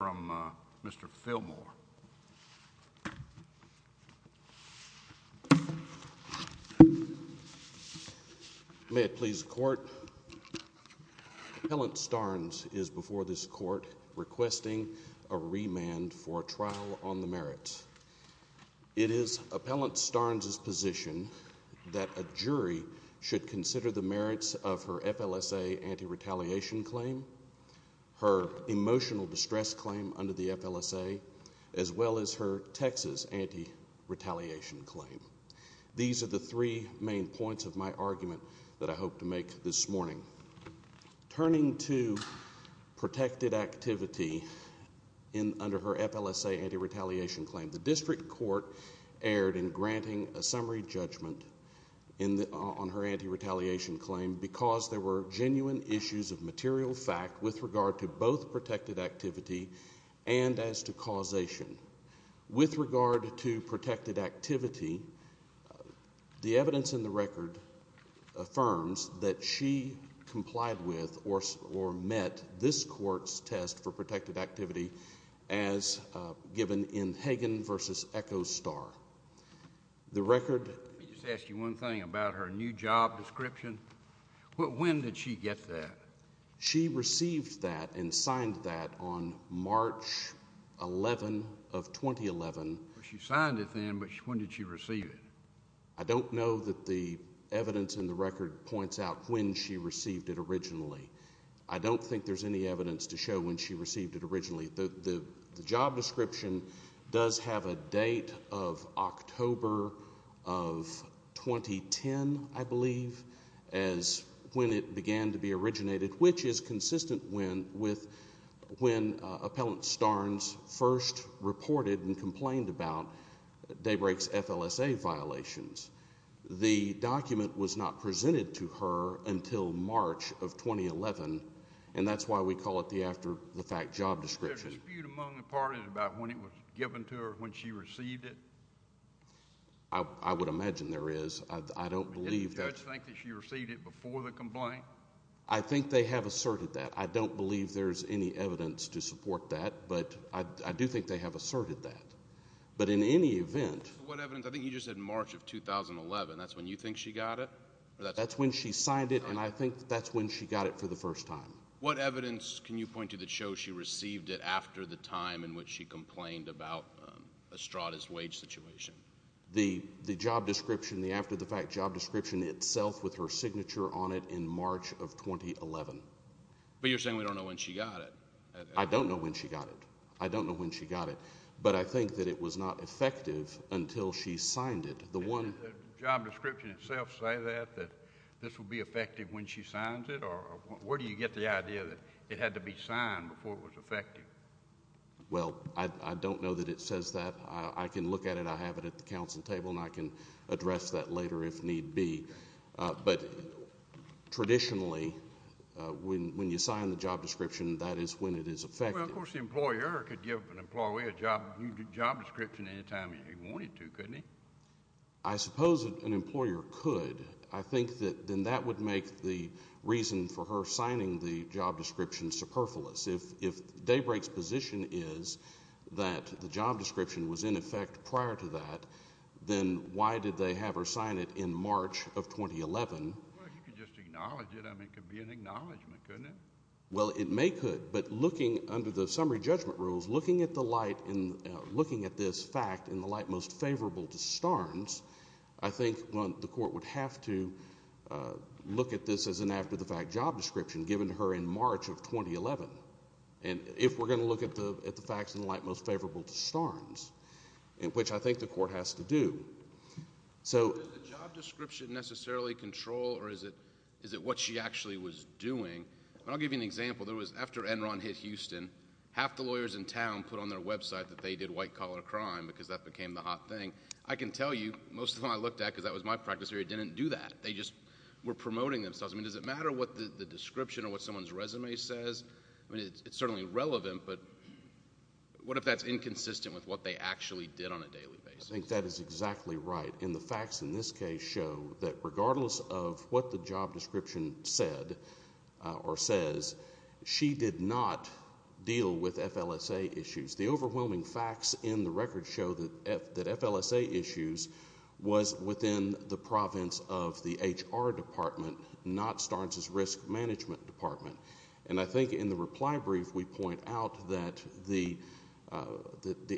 Appellant Starnes is before this court requesting a remand for trial on the merits. It is Appellant Starnes' position that a jury should consider the merits of her FLSA anti-retaliation claim, her emotional distress claim under the FLSA, as well as her Texas anti-retaliation claim. These are the three main points of my argument that I hope to make this morning. Turning to protected activity under her FLSA anti-retaliation claim, the district court erred in granting a summary judgment on her anti-retaliation claim because there were genuine issues of material fact with regard to both protected activity and as to causation. With regard to protected activity, the evidence in the record affirms that she complied with or met this court's test for protected activity as given in Hagan v. Echo Star. The record... Let me just ask you one thing about her new job description. When did she get that? She received that and signed that on March 11 of 2011. She signed it then, but when did she receive it? I don't know that the evidence in the record points out when she received it originally. I don't think there's any evidence to show when she received it originally. The job description does have a date of October of 2010, I believe, as when it began to be originated, which is consistent with when Appellant Starnes first reported and complained about Daybreak's FLSA violations. The document was not presented to her until March of 2011, and that's why we call it the after-the-fact job description. Is there a dispute among the parties about when it was given to her when she received it? I would imagine there is. I don't believe... Didn't the judge think that she received it before the complaint? I think they have asserted that. I don't believe there's any evidence to support that, but I do think they have asserted that. But in any event... What evidence? I think you just said March of 2011. That's when you think she got it? That's when she signed it, and I think that's when she got it for the first time. What evidence can you point to that shows she received it after the time in which she complained about Estrada's wage situation? The job description, the after-the-fact job description itself with her signature on it in March of 2011. But you're saying we don't know when she got it. I don't know when she got it. I don't know when she got it. But I think that it was not effective until she signed it. The one... Did the job description itself say that, that this would be effective when she signs it? Or where do you get the idea that it had to be signed before it was effective? Well, I don't know that it says that. I can look at it. I have it at the council table, and I can address that later if need be. But traditionally, when you sign the job description, that is when it is effective. Well, of course, the employer could give an employee a job description any time he wanted to, couldn't he? I suppose an employer could. I think that then that would make the reason for her signing the job description superfluous. If Daybreak's position is that the job description was, in effect, prior to that, then why did they have her sign it in March of 2011? Well, if you could just acknowledge it, I mean, it could be an acknowledgement, couldn't it? Well, it may could. But looking under the summary judgment rules, looking at this fact in the light most favorable to Starnes, I think the court would have to look at this as an after-the-fact job description given to her in March of 2011. And if we're going to look at the facts in the light most favorable to Starnes, which I think the court has to do. So does the job description necessarily control, or is it what she actually was doing? I'll give you an example. There was, after Enron hit Houston, half the lawyers in town put on their website that they did white-collar crime because that became the hot thing. I can tell you, most of them I looked at, because that was my practice area, didn't do that. They just were promoting themselves. I mean, does it matter what the description or what someone's resume says? I mean, it's certainly relevant, but what if that's inconsistent with what they actually did on a daily basis? I think that is exactly right. And the facts in this case show that regardless of what the job description said or says, she did not deal with FLSA issues. The overwhelming facts in the record show that FLSA issues was within the province of the HR department, not Starnes' risk management department. And I think in the reply brief, we point out that the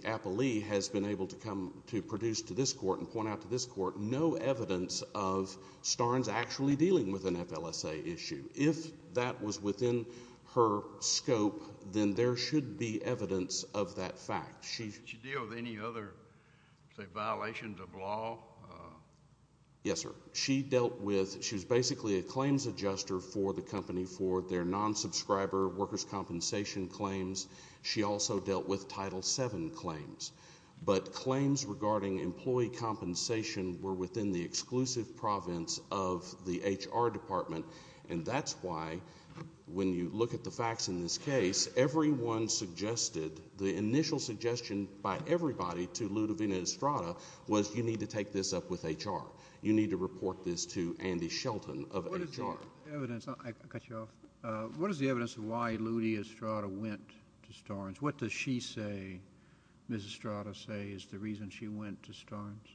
appellee has been able to come to this court and point out to this court no evidence of Starnes actually dealing with an FLSA issue. If that was within her scope, then there should be evidence of that fact. Did she deal with any other, say, violations of law? Yes, sir. She dealt with, she was basically a claims adjuster for the company for their non-subscriber workers' compensation claims. She also dealt with Title VII claims. But claims regarding employee compensation were within the exclusive province of the HR department. And that's why, when you look at the facts in this case, everyone suggested, the initial suggestion by everybody to Ludovina Estrada was you need to take this up with HR. You need to report this to Andy Shelton of HR. What is the evidence, I'll cut you off, what is the evidence of why Ludovina Estrada went to Starnes? What does she say, Ms. Estrada says, is the reason she went to Starnes?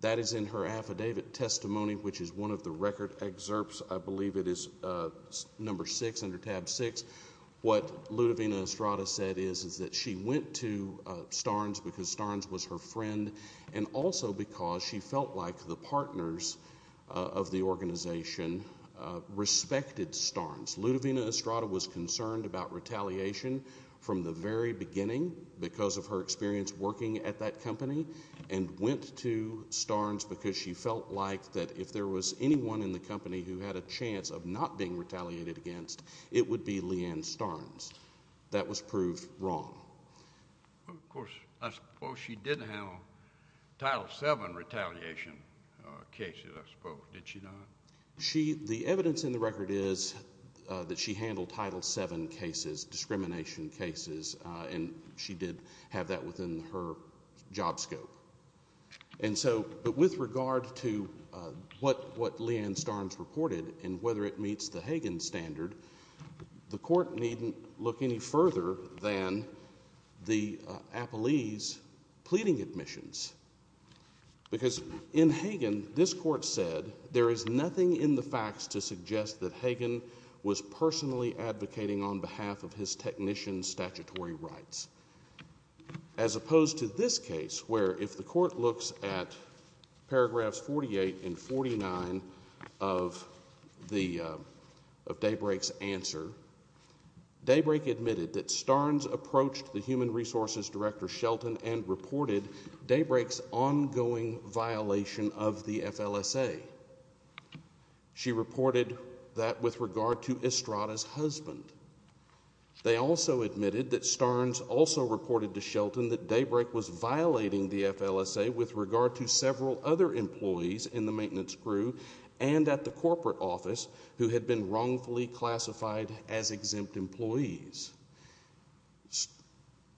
That is in her affidavit testimony, which is one of the record excerpts, I believe it is number six, under tab six. What Ludovina Estrada said is that she went to Starnes because Starnes was her friend and also because she felt like the partners of the organization respected Starnes. Ludovina Estrada was concerned about retaliation from the very beginning because of her experience working at that company and went to Starnes because she felt like that if there was anyone in the company who had a chance of not being retaliated against, it would be Leanne Starnes. That was proved wrong. Of course, I suppose she did have Title VII retaliation cases, I suppose, did she not? The evidence in the record is that she handled Title VII cases, discrimination cases, and she did have that within her job scope. With regard to what Leanne Starnes reported and whether it meets the Hagen standard, the court needn't look any further than the Apollese pleading admissions because in Hagen, this has nothing in the facts to suggest that Hagen was personally advocating on behalf of his technician's statutory rights. As opposed to this case where if the court looks at paragraphs 48 and 49 of Daybreak's answer, Daybreak admitted that Starnes approached the Human Resources Director Shelton and reported Daybreak's ongoing violation of the FLSA. She reported that with regard to Estrada's husband. They also admitted that Starnes also reported to Shelton that Daybreak was violating the FLSA with regard to several other employees in the maintenance crew and at the corporate office who had been wrongfully classified as exempt employees.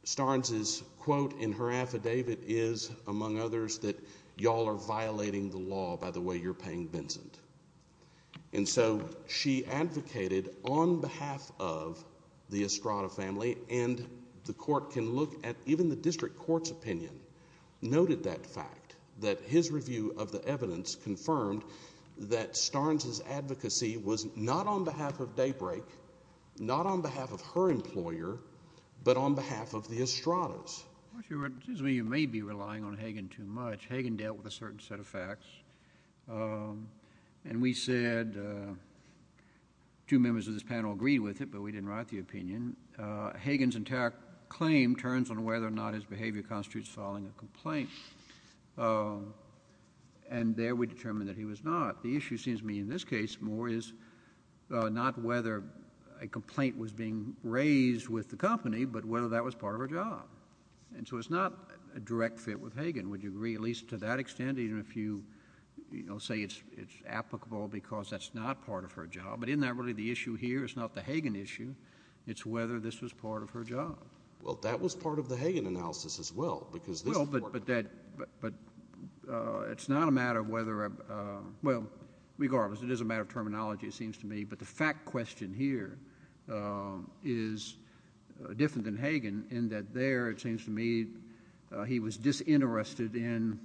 Starnes' quote in her affidavit is, among others, that y'all are violating the law by the way you're paying Vincent. And so she advocated on behalf of the Estrada family and the court can look at even the district court's opinion noted that fact, that his review of the evidence confirmed that Starnes' advocacy was not on behalf of Daybreak, not on behalf of her employer, but on behalf of the Estradas. Excuse me, you may be relying on Hagen too much. Hagen dealt with a certain set of facts. And we said, two members of this panel agreed with it, but we didn't write the opinion. Hagen's entire claim turns on whether or not his behavior constitutes filing a complaint. And there we determined that he was not. The issue seems to me in this case more is not whether a complaint was being raised with the company, but whether that was part of her job. And so it's not a direct fit with Hagen. Would you agree at least to that extent, even if you say it's applicable because that's not part of her job, but isn't that really the issue here? It's not the Hagen issue. It's whether this was part of her job. Well, that was part of the Hagen analysis as well. Well, but that, but it's not a matter of whether, well, regardless, it is a matter of terminology it seems to me, but the fact question here is different than Hagen in that there it seems to me he was disinterested in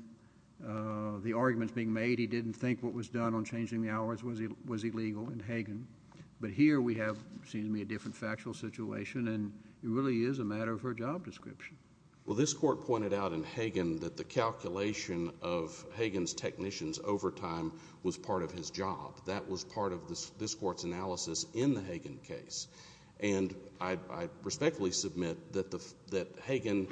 the arguments being made. He didn't think what was done on changing the hours was illegal in Hagen. But here we have, it seems to me, a different factual situation, and it really is a matter of her job description. Well, this court pointed out in Hagen that the calculation of Hagen's technician's overtime was part of his job. That was part of this court's analysis in the Hagen case. And I respectfully submit that Hagen,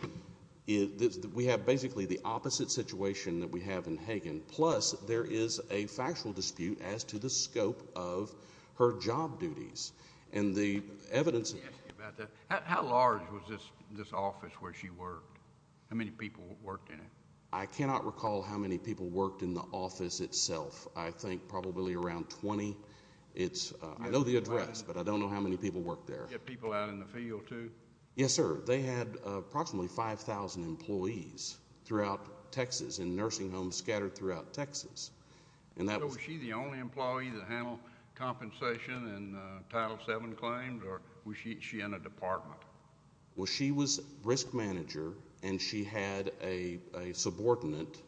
we have basically the opposite situation that we have in Hagen, plus there is a factual dispute as to the scope of her job duties. And the evidence... How large was this office where she worked? How many people worked in it? I cannot recall how many people worked in the office itself. I think probably around 20. It's... I know the address, but I don't know how many people worked there. Did you get people out in the field, too? Yes, sir. They had approximately 5,000 employees throughout Texas in nursing homes scattered throughout Texas. And that was... Was she in a department? Well, she was risk manager, and she had a subordinate.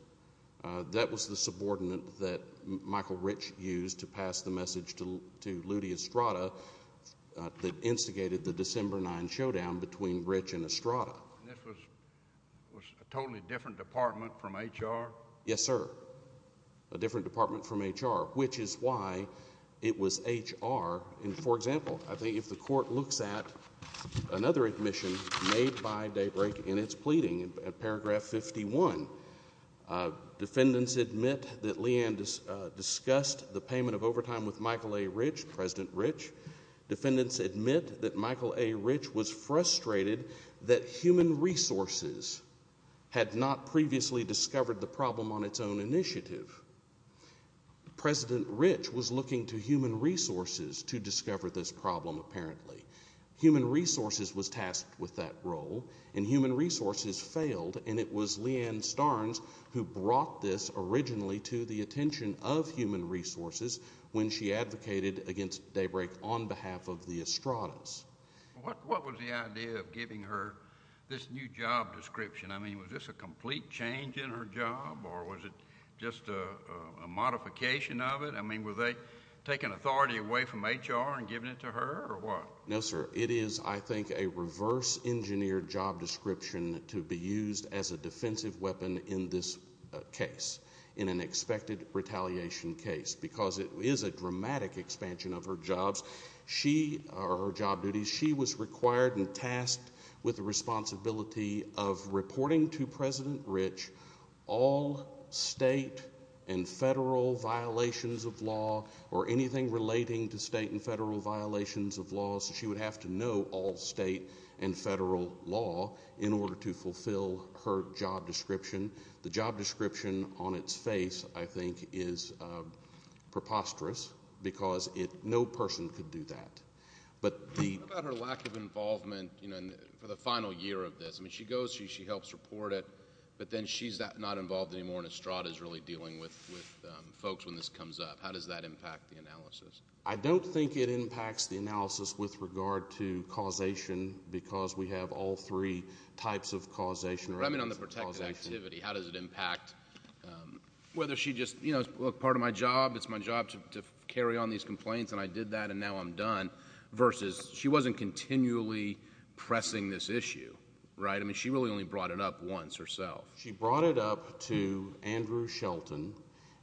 That was the subordinate that Michael Rich used to pass the message to Ludi Estrada that instigated the December 9 showdown between Rich and Estrada. And this was a totally different department from HR? Yes, sir. A different department from HR, which is why it was HR. For example, I think if the Court looks at another admission made by Daybreak in its pleading in paragraph 51, defendants admit that Leigh Ann discussed the payment of overtime with Michael A. Rich, President Rich. Defendants admit that Michael A. Rich was frustrated that Human Resources had not previously discovered the problem on its own initiative. President Rich was looking to Human Resources to discover this problem, apparently. Human Resources was tasked with that role, and Human Resources failed, and it was Leigh Ann Starnes who brought this originally to the attention of Human Resources when she advocated against Daybreak on behalf of the Estradas. What was the idea of giving her this new job description? I mean, was this a complete change in her job, or was it just a modification of it? I mean, were they taking authority away from HR and giving it to her, or what? No, sir. It is, I think, a reverse-engineered job description to be used as a defensive weapon in this case, in an expected retaliation case, because it is a dramatic expansion of her job duties. She was required and tasked with the responsibility of reporting to President Rich all state and federal violations of law, or anything relating to state and federal violations of law, so she would have to know all state and federal law in order to fulfill her job description. The job description on its face, I think, is preposterous, because no person could do that. What about her lack of involvement for the final year of this? I mean, she goes, she helps report it, but then she's not involved anymore, and Estrada is really dealing with folks when this comes up. How does that impact the analysis? I don't think it impacts the analysis with regard to causation, because we have all three types of causation. I mean, on the protected activity, how does it impact, whether she just, you know, part of my job, it's my job to carry on these complaints, and I did that, and now I'm done. Versus, she wasn't continually pressing this issue, right? I mean, she really only brought it up once herself. She brought it up to Andrew Shelton,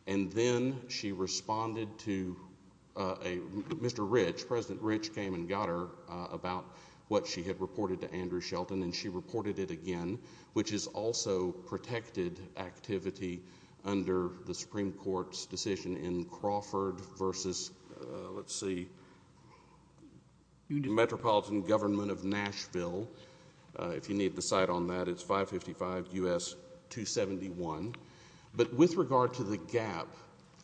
and then she responded to a, Mr. Rich, President Rich came and got her about what she had reported to Andrew Shelton, and she reported it again, which is also protected activity under the Supreme Court's decision in Crawford versus, let's see, Union Metropolitan Government of Nashville. If you need the site on that, it's 555 U.S. 271. But with regard to the gap,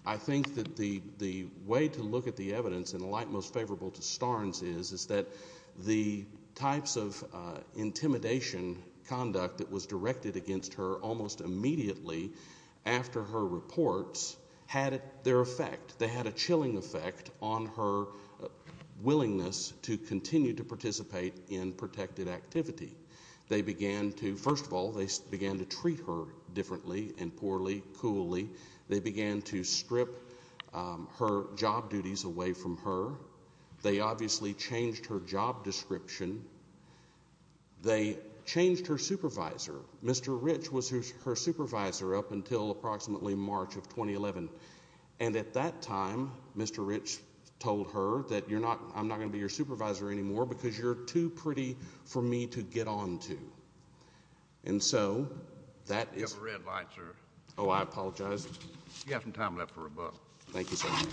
I think that the way to look at the evidence, and the light most favorable to Starnes is, is that the types of intimidation conduct that was directed against her almost immediately after her reports had their effect. They had a chilling effect on her willingness to continue to participate in protected activity. They began to, first of all, they began to treat her differently and poorly, coolly. They began to strip her job duties away from her. They obviously changed her job description. They changed her supervisor. Mr. Rich was her supervisor up until approximately March of 2011. And at that time, Mr. Rich told her that you're not, I'm not going to be your supervisor anymore because you're too pretty for me to get on to. And so, that is. You have a red light, sir. Oh, I apologize. You have some time left for rebuttal. Thank you, sir. I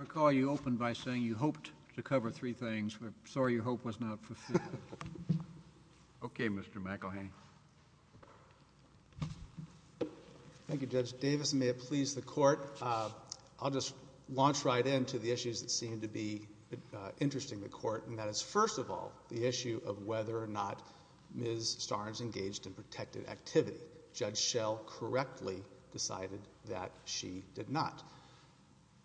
recall you opened by saying you hoped to cover three things, but I'm sorry your hope was not fulfilled. Okay, Mr. McElhaney. Thank you, Judge Davis. Mr. Davis, may it please the Court, I'll just launch right into the issues that seem to be interesting to the Court, and that is, first of all, the issue of whether or not Ms. Starnes engaged in protected activity. Judge Schell correctly decided that she did not.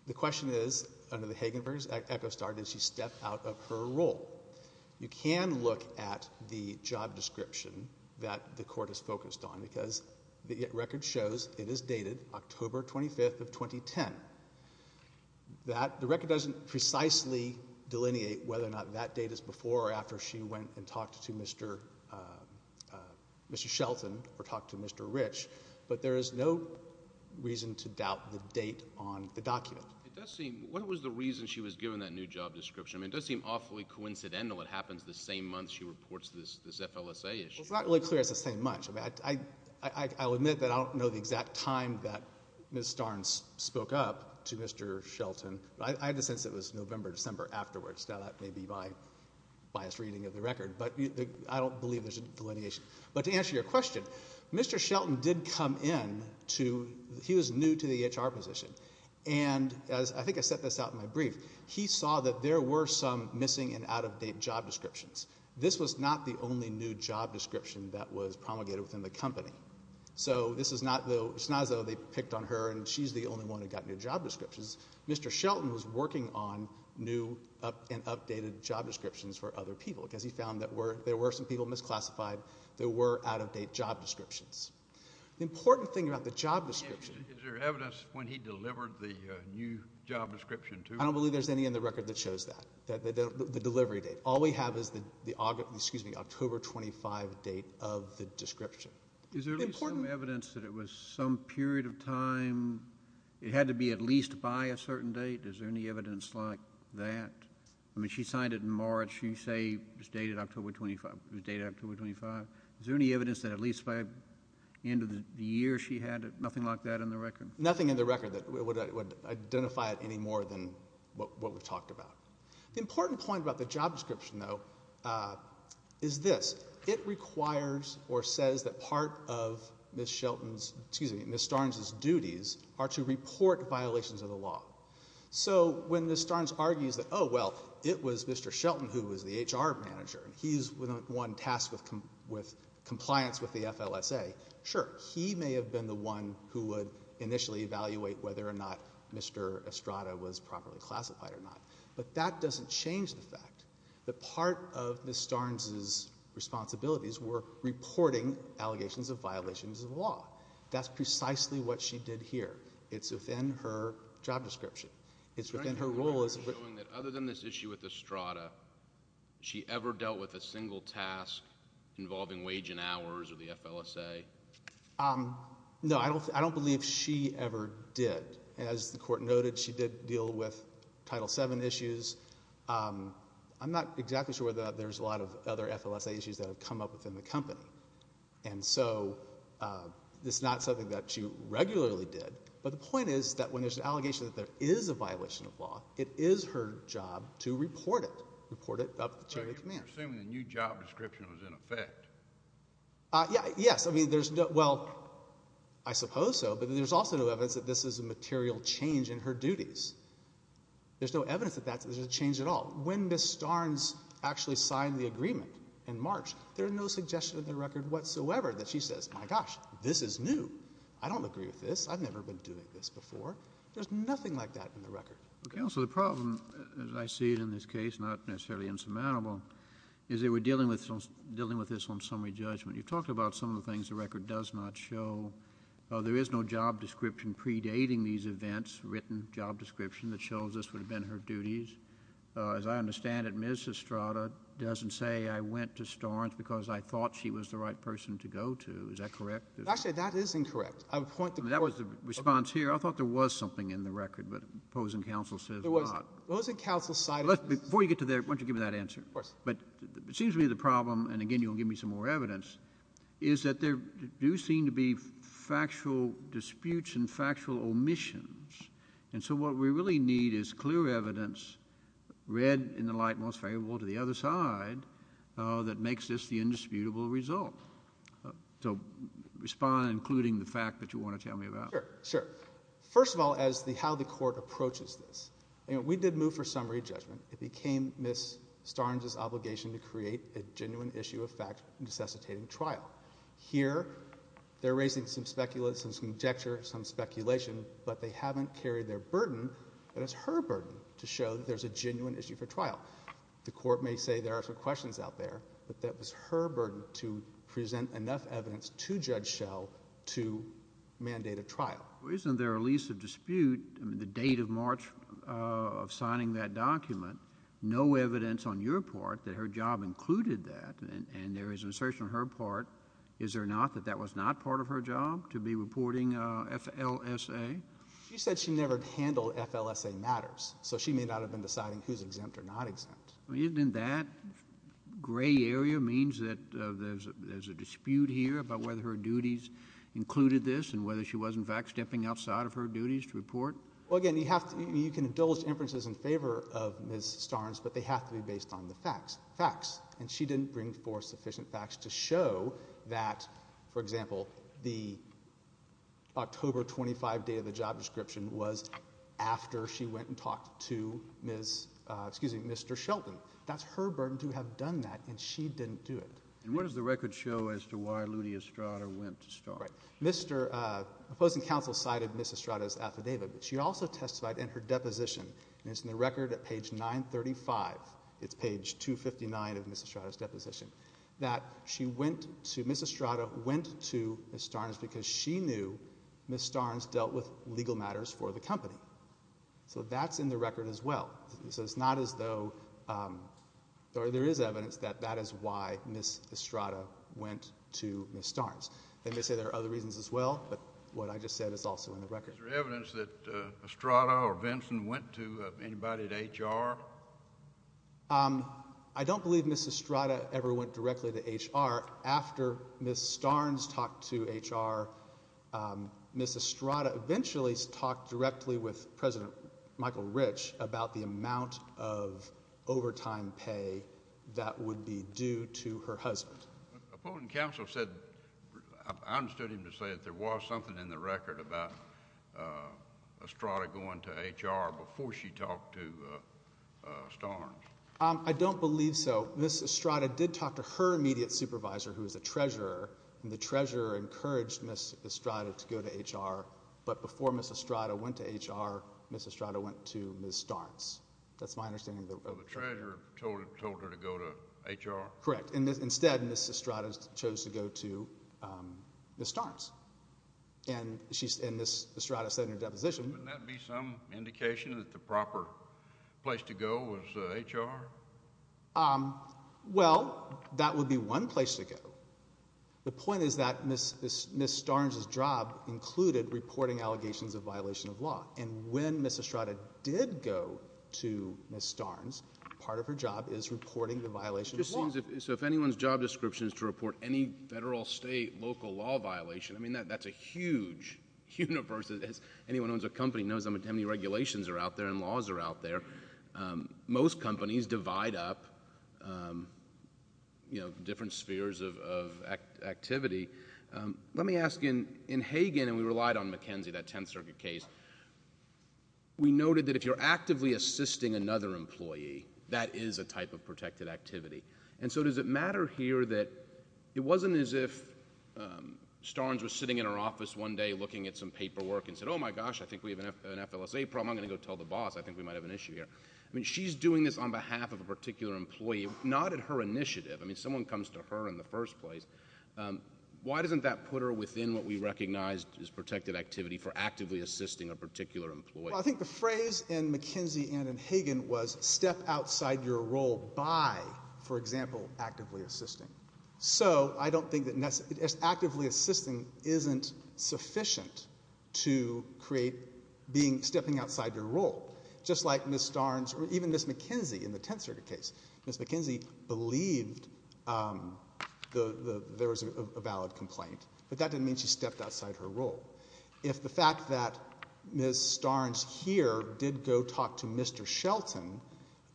The question is, under the Hagenberg Echo Star, did she step out of her role? You can look at the job description that the Court is focused on because the record shows it is dated October 25th of 2010. The record doesn't precisely delineate whether or not that date is before or after she went and talked to Mr. Shelton or talked to Mr. Rich, but there is no reason to doubt the date on the document. What was the reason she was given that new job description? I mean, it does seem awfully coincidental it happens the same month she reports this FLSA issue. Well, it's not really clear it's the same month. I'll admit that I don't know the exact time that Ms. Starnes spoke up to Mr. Shelton. I have a sense it was November, December afterwards. Now, that may be my biased reading of the record, but I don't believe there's a delineation. But to answer your question, Mr. Shelton did come in to, he was new to the HR position, and as, I think I set this out in my brief, he saw that there were some missing and out-of-date job descriptions. This was not the only new job description that was promulgated within the company. So this is not, it's not as though they picked on her and she's the only one who got new job descriptions. Mr. Shelton was working on new and updated job descriptions for other people because he found that there were some people misclassified, there were out-of-date job descriptions. The important thing about the job description. Is there evidence when he delivered the new job description to her? I don't believe there's any in the record that shows that, the delivery date. All we have is the October, excuse me, October 25 date of the description. Is there at least some evidence that it was some period of time, it had to be at least by a certain date? Is there any evidence like that? I mean, she signed it in March, you say it was dated October 25, it was dated October 25. Is there any evidence that at least by the end of the year she had it? Nothing like that in the record? Nothing in the record that would identify it any more than what we've talked about. The important point about the job description, though, is this. It requires or says that part of Ms. Starnes' duties are to report violations of the law. So when Ms. Starnes argues that, oh, well, it was Mr. Shelton who was the HR manager, he's the one tasked with compliance with the FLSA, sure, he may have been the one who would initially evaluate whether or not Mr. Estrada was properly classified or not. But that doesn't change the fact that part of Ms. Starnes' responsibilities were reporting allegations of violations of the law. That's precisely what she did here. It's within her job description. It's within her role as a... Are you showing that other than this issue with Estrada, she ever dealt with a single task involving wage and hours or the FLSA? No, I don't believe she ever did. As the Court noted, she did deal with Title VII issues. I'm not exactly sure whether or not there's a lot of other FLSA issues that have come up within the company. And so this is not something that she regularly did. But the point is that when there's an allegation that there is a violation of law, it is her job to report it, report it up to the chain of command. So you're assuming the new job description was in effect? Yes. I mean, there's no... Well, I suppose so, but there's also no evidence that this is a material change in her duties. There's no evidence that that's a change at all. When Ms. Starnes actually signed the agreement in March, there are no suggestions in the record whatsoever that she says, my gosh, this is new. I don't agree with this. I've never been doing this before. There's nothing like that in the record. Counsel, the problem, as I see it in this case, not necessarily insurmountable, is that we're dealing with this on summary judgment. You've talked about some of the things the record does not show. There is no job description predating these events, written job description, that shows this would have been her duties. As I understand it, Ms. Estrada doesn't say, I went to Starnes because I thought she was the right person to go to. Is that correct? Actually, that is incorrect. I would point to... I mean, that was the response here. I thought there was something in the record, but opposing counsel says not. There wasn't. Opposing counsel cited... Before you get to there, why don't you give me that answer? Of course. But it seems to me the problem, and again, you'll give me some more evidence, is that there do seem to be factual disputes and factual omissions. And so what we really need is clear evidence, read in the light most favorable to the other side, that makes this the indisputable result. So respond, including the fact that you want to tell me about. Sure. First of all, as to how the Court approaches this, we did move for summary judgment. It became Ms. Starnes' obligation to create a genuine issue of fact necessitating trial. Here, they're raising some speculation, some conjecture, some speculation, but they haven't carried their burden, and it's her burden to show that there's a genuine issue for trial. The Court may say there are some questions out there, but that was her burden to present enough evidence to Judge Schell to mandate a trial. Isn't there at least a dispute, the date of March of signing that document, no evidence on your part that her job included that? And there is an assertion on her part, is there not, that that was not part of her job, to be reporting FLSA? She said she never handled FLSA matters, so she may not have been deciding who's exempt or not exempt. I mean, isn't that gray area means that there's a dispute here about whether her duties included this and whether she was, in fact, stepping outside of her duties to report? Well, again, you have to, you can indulge inferences in favor of Ms. Starnes, but they have to be based on the facts, facts, and she didn't bring forth sufficient facts to show that, for example, the October 25 day of the job description was after she went and talked to Ms., excuse me, Mr. Shelton. That's her burden to have done that, and she didn't do it. And what does the record show as to why Ludi Estrada went to Starnes? Right. Mr., uh, opposing counsel cited Ms. Estrada's affidavit, but she also testified in her deposition, and it's in the record at page 935, it's page 259 of Ms. Estrada's deposition, that she went to, Ms. Estrada went to Ms. Starnes because she knew Ms. Starnes dealt with legal matters for the company. So that's in the record as well, so it's not as though, um, there is evidence that that is why Ms. Estrada went to Ms. Starnes. They may say there are other reasons as well, but what I just said is also in the record. Is there evidence that, uh, Estrada or Vinson went to anybody at HR? Um, I don't believe Ms. Estrada ever went directly to HR. After Ms. Starnes talked to HR, um, Ms. Estrada eventually talked directly with President Opposing counsel said, I understood him to say that there was something in the record about, uh, Estrada going to HR before she talked to, uh, uh, Starnes. Um, I don't believe so. Ms. Estrada did talk to her immediate supervisor, who is a treasurer, and the treasurer encouraged Ms. Estrada to go to HR, but before Ms. Estrada went to HR, Ms. Estrada went to Ms. Starnes. That's my understanding of the record. So the treasurer told her to go to HR? Correct. And instead, Ms. Estrada chose to go to, um, Ms. Starnes. And she's, and Ms. Estrada said in her deposition- Wouldn't that be some indication that the proper place to go was, uh, HR? Um, well, that would be one place to go. The point is that Ms., Ms., Ms. Starnes' job included reporting allegations of violation of law. And when Ms. Estrada did go to Ms. Starnes, part of her job is reporting the violation of law. So if anyone's job description is to report any federal, state, local law violation, I mean, that, that's a huge universe that has, anyone who owns a company knows how many regulations are out there and laws are out there. Um, most companies divide up, um, you know, different spheres of, of activity. Um, let me ask you, in Hagen, and we relied on McKenzie, that Tenth Circuit case, we noted that if you're actively assisting another employee, that is a type of protected activity. And so does it matter here that it wasn't as if, um, Starnes was sitting in her office one day looking at some paperwork and said, oh my gosh, I think we have an F, an FLSA problem, I'm gonna go tell the boss, I think we might have an issue here. I mean, she's doing this on behalf of a particular employee, not at her initiative. I mean, someone comes to her in the first place, um, why doesn't that put her within what we recognized as protected activity for actively assisting a particular employee? Well, I think the phrase in McKenzie and in Hagen was step outside your role by, for example, actively assisting. So, I don't think that necessarily, actively assisting isn't sufficient to create being, stepping outside your role. Just like Ms. Starnes, or even Ms. McKenzie in the Tenth Circuit case. Ms. McKenzie believed, um, the, the, there was a valid complaint, but that didn't mean she stepped outside her role. If the fact that Ms. Starnes here did go talk to Mr. Shelton,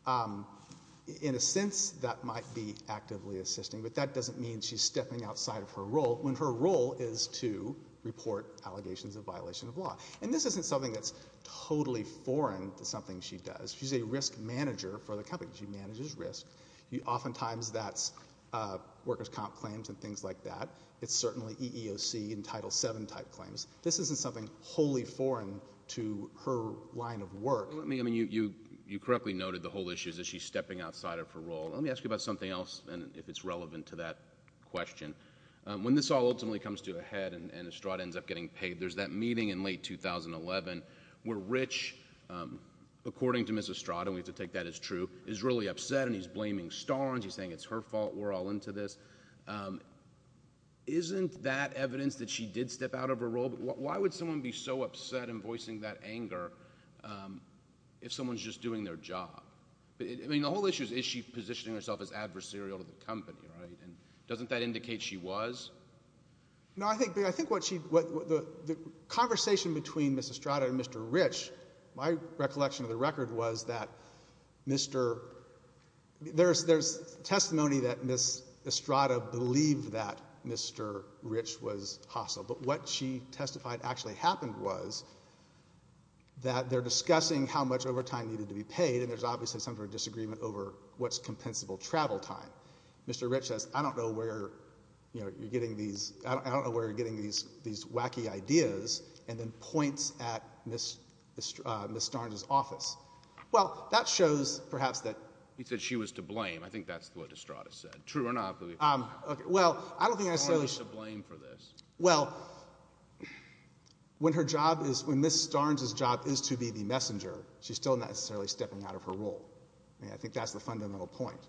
um, in a sense that might be actively assisting, but that doesn't mean she's stepping outside of her role when her role is to report allegations of violation of law. And this isn't something that's totally foreign to something she does. She's a risk manager for the company. She manages risk. You, oftentimes that's, uh, workers' comp claims and things like that. It's certainly EEOC and Title VII type claims. This isn't something wholly foreign to her line of work. Let me, I mean, you, you, you correctly noted the whole issue is that she's stepping outside of her role. Let me ask you about something else, and if it's relevant to that question. When this all ultimately comes to a head and, and Estrada ends up getting paid, there's that meeting in late 2011, where Rich, um, according to Ms. Estrada, we have to take that as true, is really upset and he's blaming Starnes, he's saying it's her fault, we're all into this, um, isn't that evidence that she did step out of her role? Why would someone be so upset and voicing that anger, um, if someone's just doing their job? I mean, the whole issue is, is she positioning herself as adversarial to the company, right? And doesn't that indicate she was? No, I think, I think what she, what, the, the conversation between Ms. Estrada and Mr. Rich, my recollection of the record was that Mr., there's, there's testimony that Ms. Estrada believed that Mr. Rich was hostile, but what she testified actually happened was that they're discussing how much overtime needed to be paid, and there's obviously some sort of disagreement over what's compensable travel time. Mr. Rich says, I don't know where, you know, you're getting these, I don't, I don't know where you're getting these, these wacky ideas, and then points at Ms., uh, Ms. Starnes's office. Well, that shows, perhaps, that. He said she was to blame, I think that's what Estrada said. True or not? Um, okay. Well, I don't think I saw. Why is she to blame for this? Well, when her job is, when Ms. Starnes's job is to be the messenger, she's still not necessarily stepping out of her role, and I think that's the fundamental point.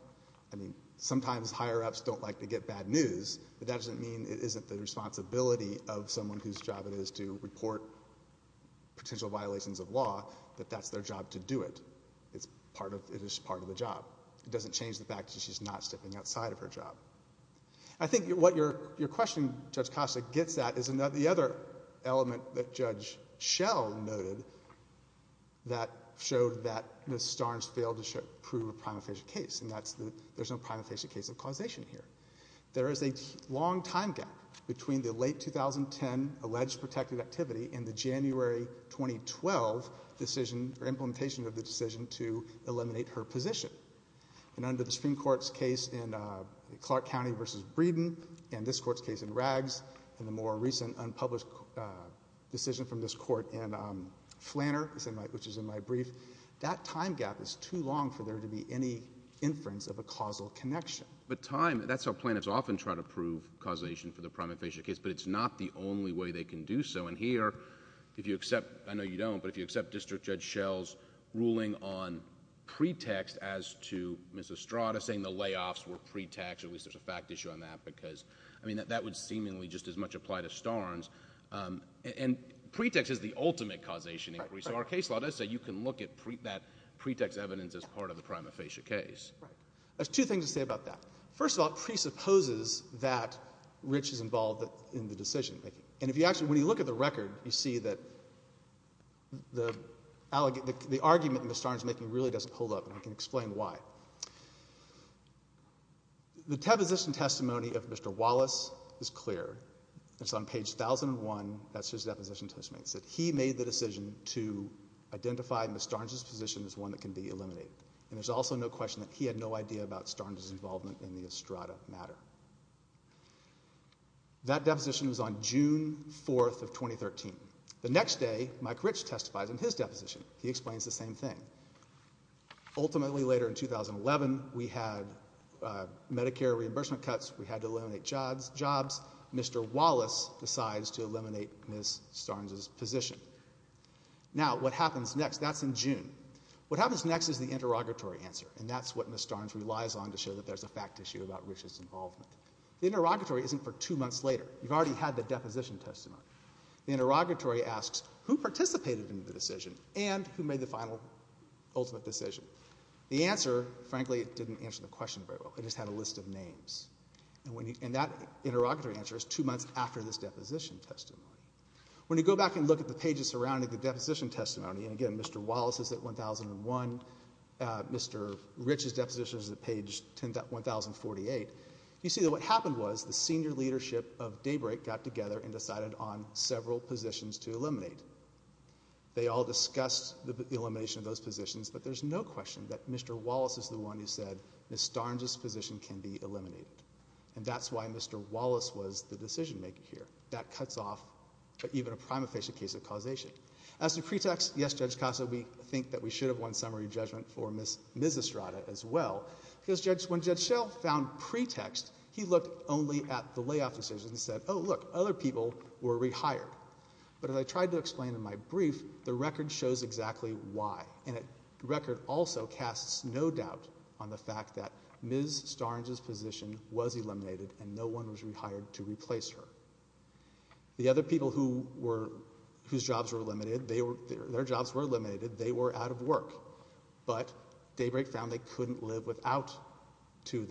I mean, sometimes higher-ups don't like to get bad news, but that doesn't mean it isn't the responsibility of someone whose job it is to report potential violations of law, that that's their job to do it. It's part of, it is part of the job. It doesn't change the fact that she's not stepping outside of her job. I think what your, your question, Judge Costa, gets at is another, the other element that Judge Schell noted that showed that Ms. Starnes failed to prove a prima facie case, and that's the, there's no prima facie case of causation here. There is a long time gap between the late 2010 alleged protected activity and the January 2012 decision, or implementation of the decision to eliminate her position, and under the Supreme Court's case in Clark County v. Breeden, and this Court's case in Rags, and the more recent unpublished decision from this Court in Flanner, which is in my brief, that time gap is too long for there to be any inference of a causal connection. But time, that's how plaintiffs often try to prove causation for the prima facie case, but it's not the only way they can do so, and here, if you accept, I know you don't, but if you accept District Judge Schell's ruling on pretext as to Ms. Estrada saying the layoffs were pretext, or at least there's a fact issue on that, because, I mean, that would seemingly just as much apply to Starnes, and pretext is the ultimate causation inquiry. So our case law does say you can look at that pretext evidence as part of the prima facie case. Right. There's two things to say about that. First of all, it presupposes that Rich is involved in the decision-making, and if you actually, when you look at the record, you see that the argument that Ms. Starnes is making really doesn't hold up, and I can explain why. The deposition testimony of Mr. Wallace is clear, it's on page 1001, that's his deposition testimony. It said he made the decision to identify Ms. Starnes' position as one that can be eliminated, and there's also no question that he had no idea about Starnes' involvement in the Estrada matter. That deposition was on June 4th of 2013. The next day, Mike Rich testifies in his deposition, he explains the same thing. Ultimately later in 2011, we had Medicare reimbursement cuts, we had to eliminate jobs, Mr. Wallace decides to eliminate Ms. Starnes' position. Now, what happens next, that's in June. What happens next is the interrogatory answer, and that's what Ms. Starnes relies on to show that there's a fact issue about Rich's involvement. The interrogatory isn't for two months later, you've already had the deposition testimony. The interrogatory asks who participated in the decision, and who made the final, ultimate decision. The answer, frankly, didn't answer the question very well, it just had a list of names. And that interrogatory answer is two months after this deposition testimony. When you go back and look at the pages surrounding the deposition testimony, and again, Mr. Wallace is at 1001, Mr. Rich's deposition is at page 1048, you see that what happened was the senior leadership of Daybreak got together and decided on several positions to eliminate. They all discussed the elimination of those positions, but there's no question that Mr. Starnes' position can be eliminated. And that's why Mr. Wallace was the decision-maker here. That cuts off even a prima facie case of causation. As to pretext, yes, Judge Casso, we think that we should have won summary judgment for Ms. Estrada as well, because when Judge Schell found pretext, he looked only at the layoff decision and said, oh, look, other people were rehired. But as I tried to explain in my brief, the record shows exactly why, and the record also casts no doubt on the fact that Ms. Starnes' position was eliminated and no one was rehired to replace her. The other people whose jobs were eliminated, their jobs were eliminated. They were out of work. But Daybreak found they couldn't live without two of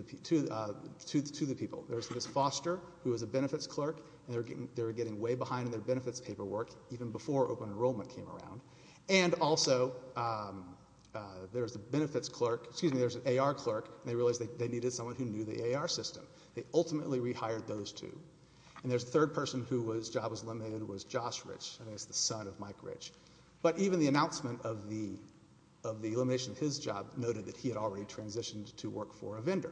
the people. There's Ms. Foster, who was a benefits clerk, and they were getting way behind in their benefits paperwork even before open enrollment came around. And also, there's a benefits clerk, excuse me, there's an AR clerk, and they realized that they needed someone who knew the AR system. They ultimately rehired those two. And there's a third person whose job was eliminated, who was Josh Rich, the son of Mike Rich. But even the announcement of the elimination of his job noted that he had already transitioned to work for a vendor.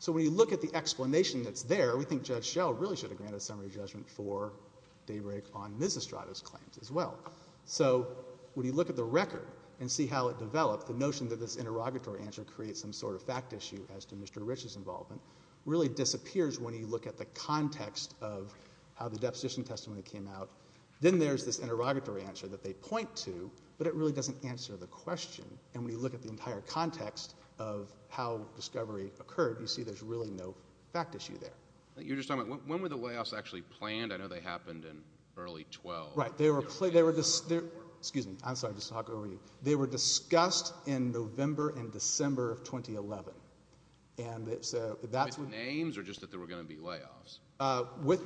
So when you look at the explanation that's there, we think Judge Schell really should have granted summary judgment for Daybreak on Ms. Estrada's claims as well. So when you look at the record and see how it developed, the notion that this interrogatory answer creates some sort of fact issue as to Mr. Rich's involvement really disappears when you look at the context of how the deposition testimony came out. Then there's this interrogatory answer that they point to, but it really doesn't answer the question. And when you look at the entire context of how discovery occurred, you see there's really no fact issue there. You were just talking about, when were the layoffs actually planned? I know they happened in early 12. Right. Excuse me. I'm sorry. I'm just talking over you. They were discussed in November and December of 2011. And so that's when... With names, or just that there were going to be layoffs?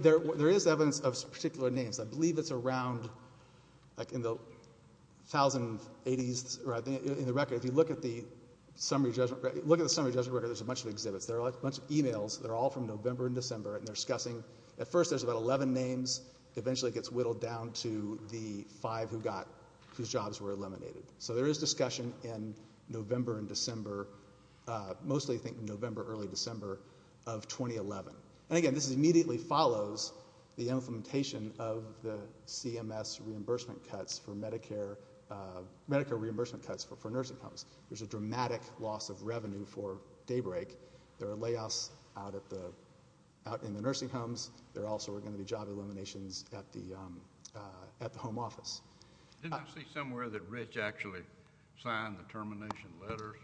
There is evidence of particular names. I believe it's around, like, in the 1,000, 80s, or I think, in the record, if you look at the summary judgment, look at the summary judgment record, there's a bunch of exhibits. There are a bunch of emails. They're all from November and December, and they're discussing... At first, there's about 11 names. Eventually, it gets whittled down to the five whose jobs were eliminated. So there is discussion in November and December, mostly, I think, November, early December of 2011. And again, this immediately follows the implementation of the CMS reimbursement cuts for Medicare... Medicare reimbursement cuts for nursing homes. There's a dramatic loss of revenue for Daybreak. There are layoffs out in the nursing homes. There also are going to be job eliminations at the home office. Didn't I see somewhere that Rich actually signed the termination letters?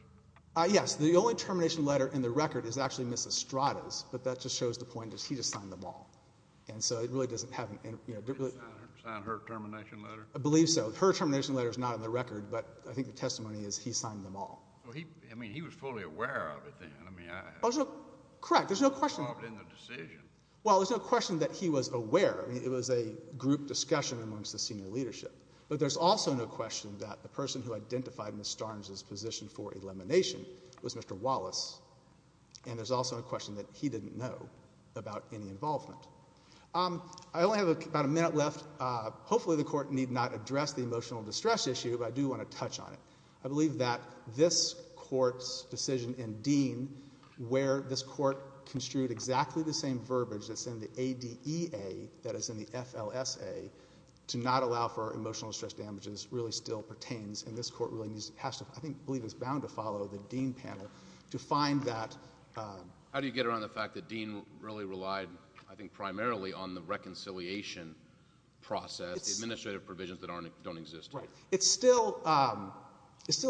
Yes. The only termination letter in the record is actually Mrs. Strada's, but that just shows the point that he just signed them all. And so it really doesn't have... Did he sign her termination letter? I believe so. Her termination letter is not in the record, but I think the testimony is he signed them all. Well, he... I mean, he was fully aware of it then. I mean, I... Oh, so... Correct. There's no question... He was involved in the decision. Well, there's no question that he was aware. I mean, it was a group discussion amongst the senior leadership. But there's also no question that the person who identified Ms. Starnes' position for elimination was Mr. Wallace, and there's also a question that he didn't know about any involvement. I only have about a minute left. Hopefully, the Court need not address the emotional distress issue, but I do want to touch on it. I believe that this Court's decision in Dean, where this Court construed exactly the same verbiage that's in the ADEA, that is in the FLSA, to not allow for emotional distress damages really still pertains, and this Court really has to, I think, believe it's bound to follow the Dean panel to find that... How do you get around the fact that Dean really relied, I think, primarily on the reconciliation process, the administrative provisions that don't exist? Right. It still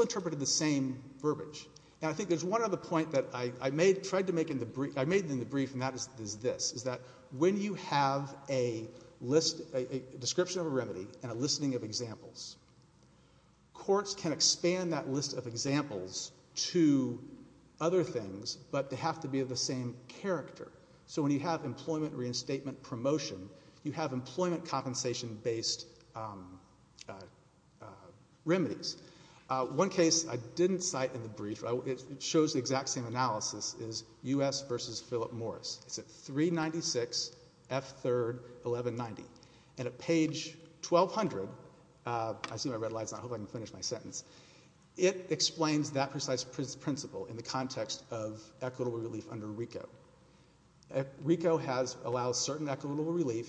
interpreted the same verbiage, and I think there's one other point that I tried to make in the brief, and that is this, is that when you have a description of a remedy and a listing of examples, courts can expand that list of examples to other things, but they have to be of the same character. When you have employment reinstatement promotion, you have employment compensation-based remedies. One case I didn't cite in the brief, it shows the exact same analysis, is U.S. v. Philip Morris. It's at 396 F. 3rd, 1190, and at page 1,200, it explains that precise principle in the RICO has allowed certain equitable relief.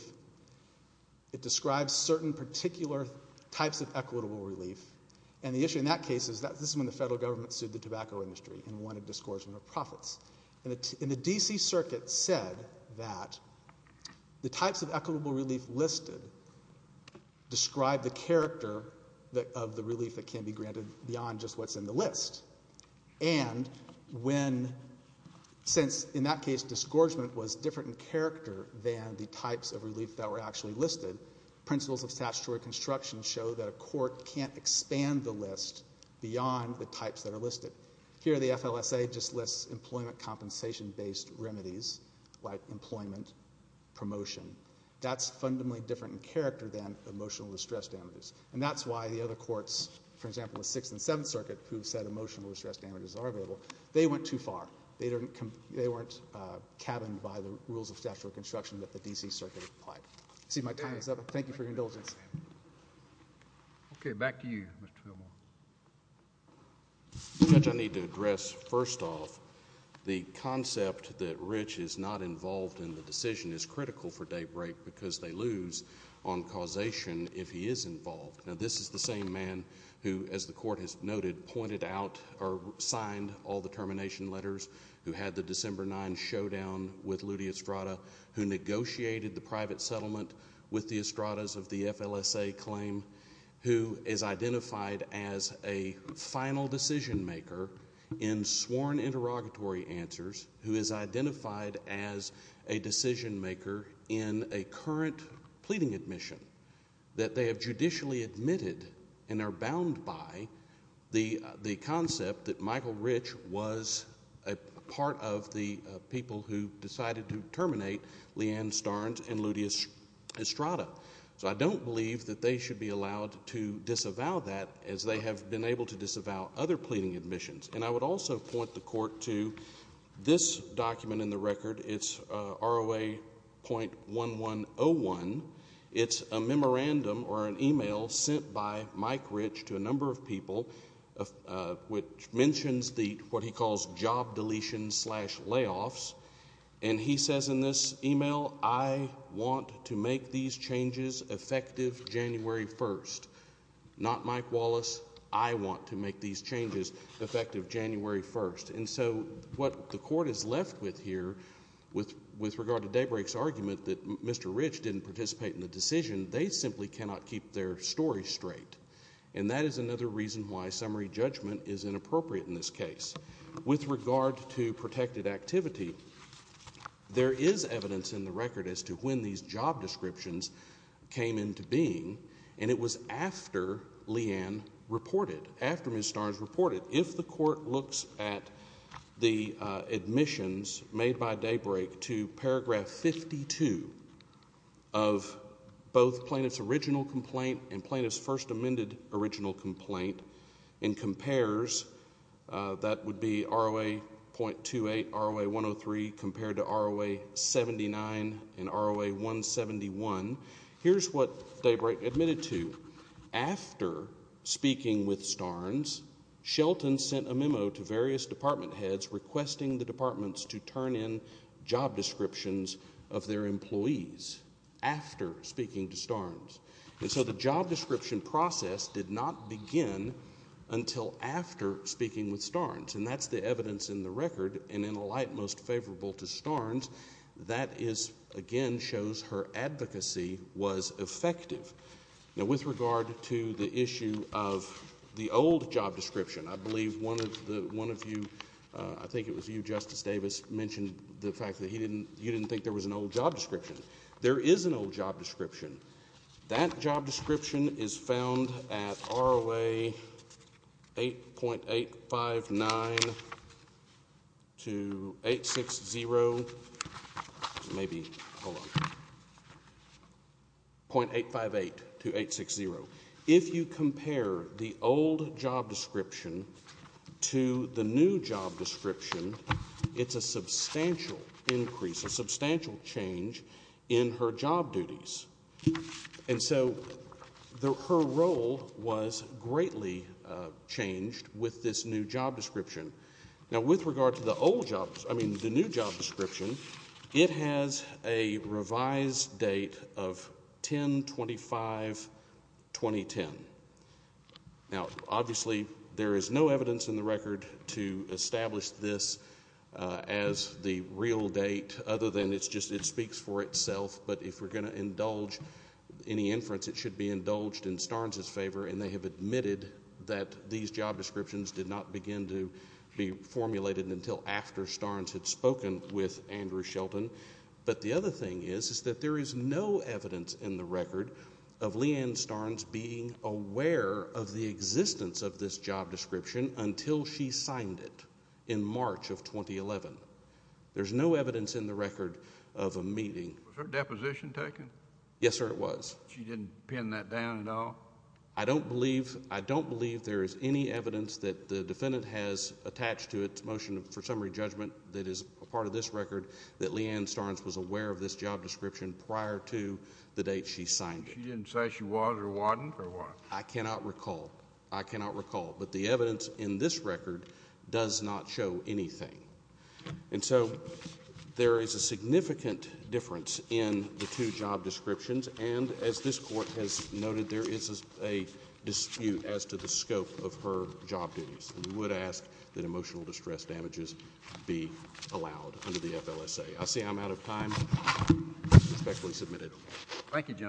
It describes certain particular types of equitable relief, and the issue in that case is that this is when the federal government sued the tobacco industry and wanted discursion of profits, and the D.C. Circuit said that the types of equitable relief listed describe the character of the relief that can be granted beyond just what's in the list, and when, since in that case, disgorgement was different in character than the types of relief that were actually listed, principles of statutory construction show that a court can't expand the list beyond the types that are listed. Here the FLSA just lists employment compensation-based remedies, like employment promotion. That's fundamentally different in character than emotional distress damages, and that's why the other courts, for example, the 6th and 7th Circuit, who said emotional distress damages are available, they went too far. They weren't cabined by the rules of statutory construction that the D.C. Circuit applied. You see my time is up. Thank you for your indulgence. Okay. Back to you, Mr. Fillmore. Judge, I need to address, first off, the concept that Rich is not involved in the decision is critical for daybreak because they lose on causation if he is involved. This is the same man who, as the Court has noted, pointed out or signed all the termination letters who had the December 9 showdown with Ludi Estrada, who negotiated the private settlement with the Estradas of the FLSA claim, who is identified as a final decision-maker in sworn interrogatory answers, who is identified as a decision-maker in a current pleading admission that they have judicially admitted and are bound by the concept that Michael Rich was a part of the people who decided to terminate Leanne Starnes and Ludi Estrada. So I don't believe that they should be allowed to disavow that, as they have been able to disavow other pleading admissions. And I would also point the Court to this document in the record. It's ROA.1101. It's a memorandum or an email sent by Mike Rich to a number of people which mentions the what he calls job deletion slash layoffs. And he says in this email, I want to make these changes effective January 1st. Not Mike Wallace. I want to make these changes effective January 1st. And so what the Court is left with here with regard to daybreak's argument that Mr. Rich didn't participate in the decision, they simply cannot keep their story straight. And that is another reason why summary judgment is inappropriate in this case. With regard to protected activity, there is evidence in the record as to when these job descriptions came into being, and it was after Leanne reported, after Ms. Starnes reported. But if the Court looks at the admissions made by daybreak to paragraph 52 of both plaintiff's original complaint and plaintiff's first amended original complaint and compares, that would be ROA.28, ROA.103 compared to ROA.79 and ROA.171, here's what daybreak admitted to. After speaking with Starnes, Shelton sent a memo to various department heads requesting the departments to turn in job descriptions of their employees after speaking to Starnes. And so the job description process did not begin until after speaking with Starnes, and that's the evidence in the record, and in a light most favorable to Starnes, that is, again, shows her advocacy was effective. Now, with regard to the issue of the old job description, I believe one of you, I think it was you, Justice Davis, mentioned the fact that you didn't think there was an old job description. There is an old job description. That job description is found at ROA 8.859 to 860, maybe, hold on, .858 to 860. If you compare the old job description to the new job description, it's a substantial increase, a substantial change in her job duties. And so her role was greatly changed with this new job description. Now with regard to the old job, I mean the new job description, it has a revised date of 10-25-2010. Now, obviously, there is no evidence in the record to establish this as the real date other than it's just, it speaks for itself, but if we're going to indulge any inference, it should be indulged in Starnes' favor, and they have admitted that these job descriptions did not begin to be formulated until after Starnes had spoken with Andrew Shelton. But the other thing is, is that there is no evidence in the record of Leanne Starnes being aware of the existence of this job description until she signed it in March of 2011. There's no evidence in the record of a meeting... Was her deposition taken? Yes, sir, it was. She didn't pin that down at all? I don't believe, I don't believe there is any evidence that the defendant has attached to its motion for summary judgment that is a part of this record that Leanne Starnes was aware of this job description prior to the date she signed it. She didn't say she was or wasn't or what? I cannot recall. I cannot recall. But the evidence in this record does not show anything. And so, there is a significant difference in the two job descriptions, and as this Court has noted, there is a dispute as to the scope of her job duties, and we would ask that emotional distress damages be allowed under the FLSA. I see I'm out of time. I respectfully submit it.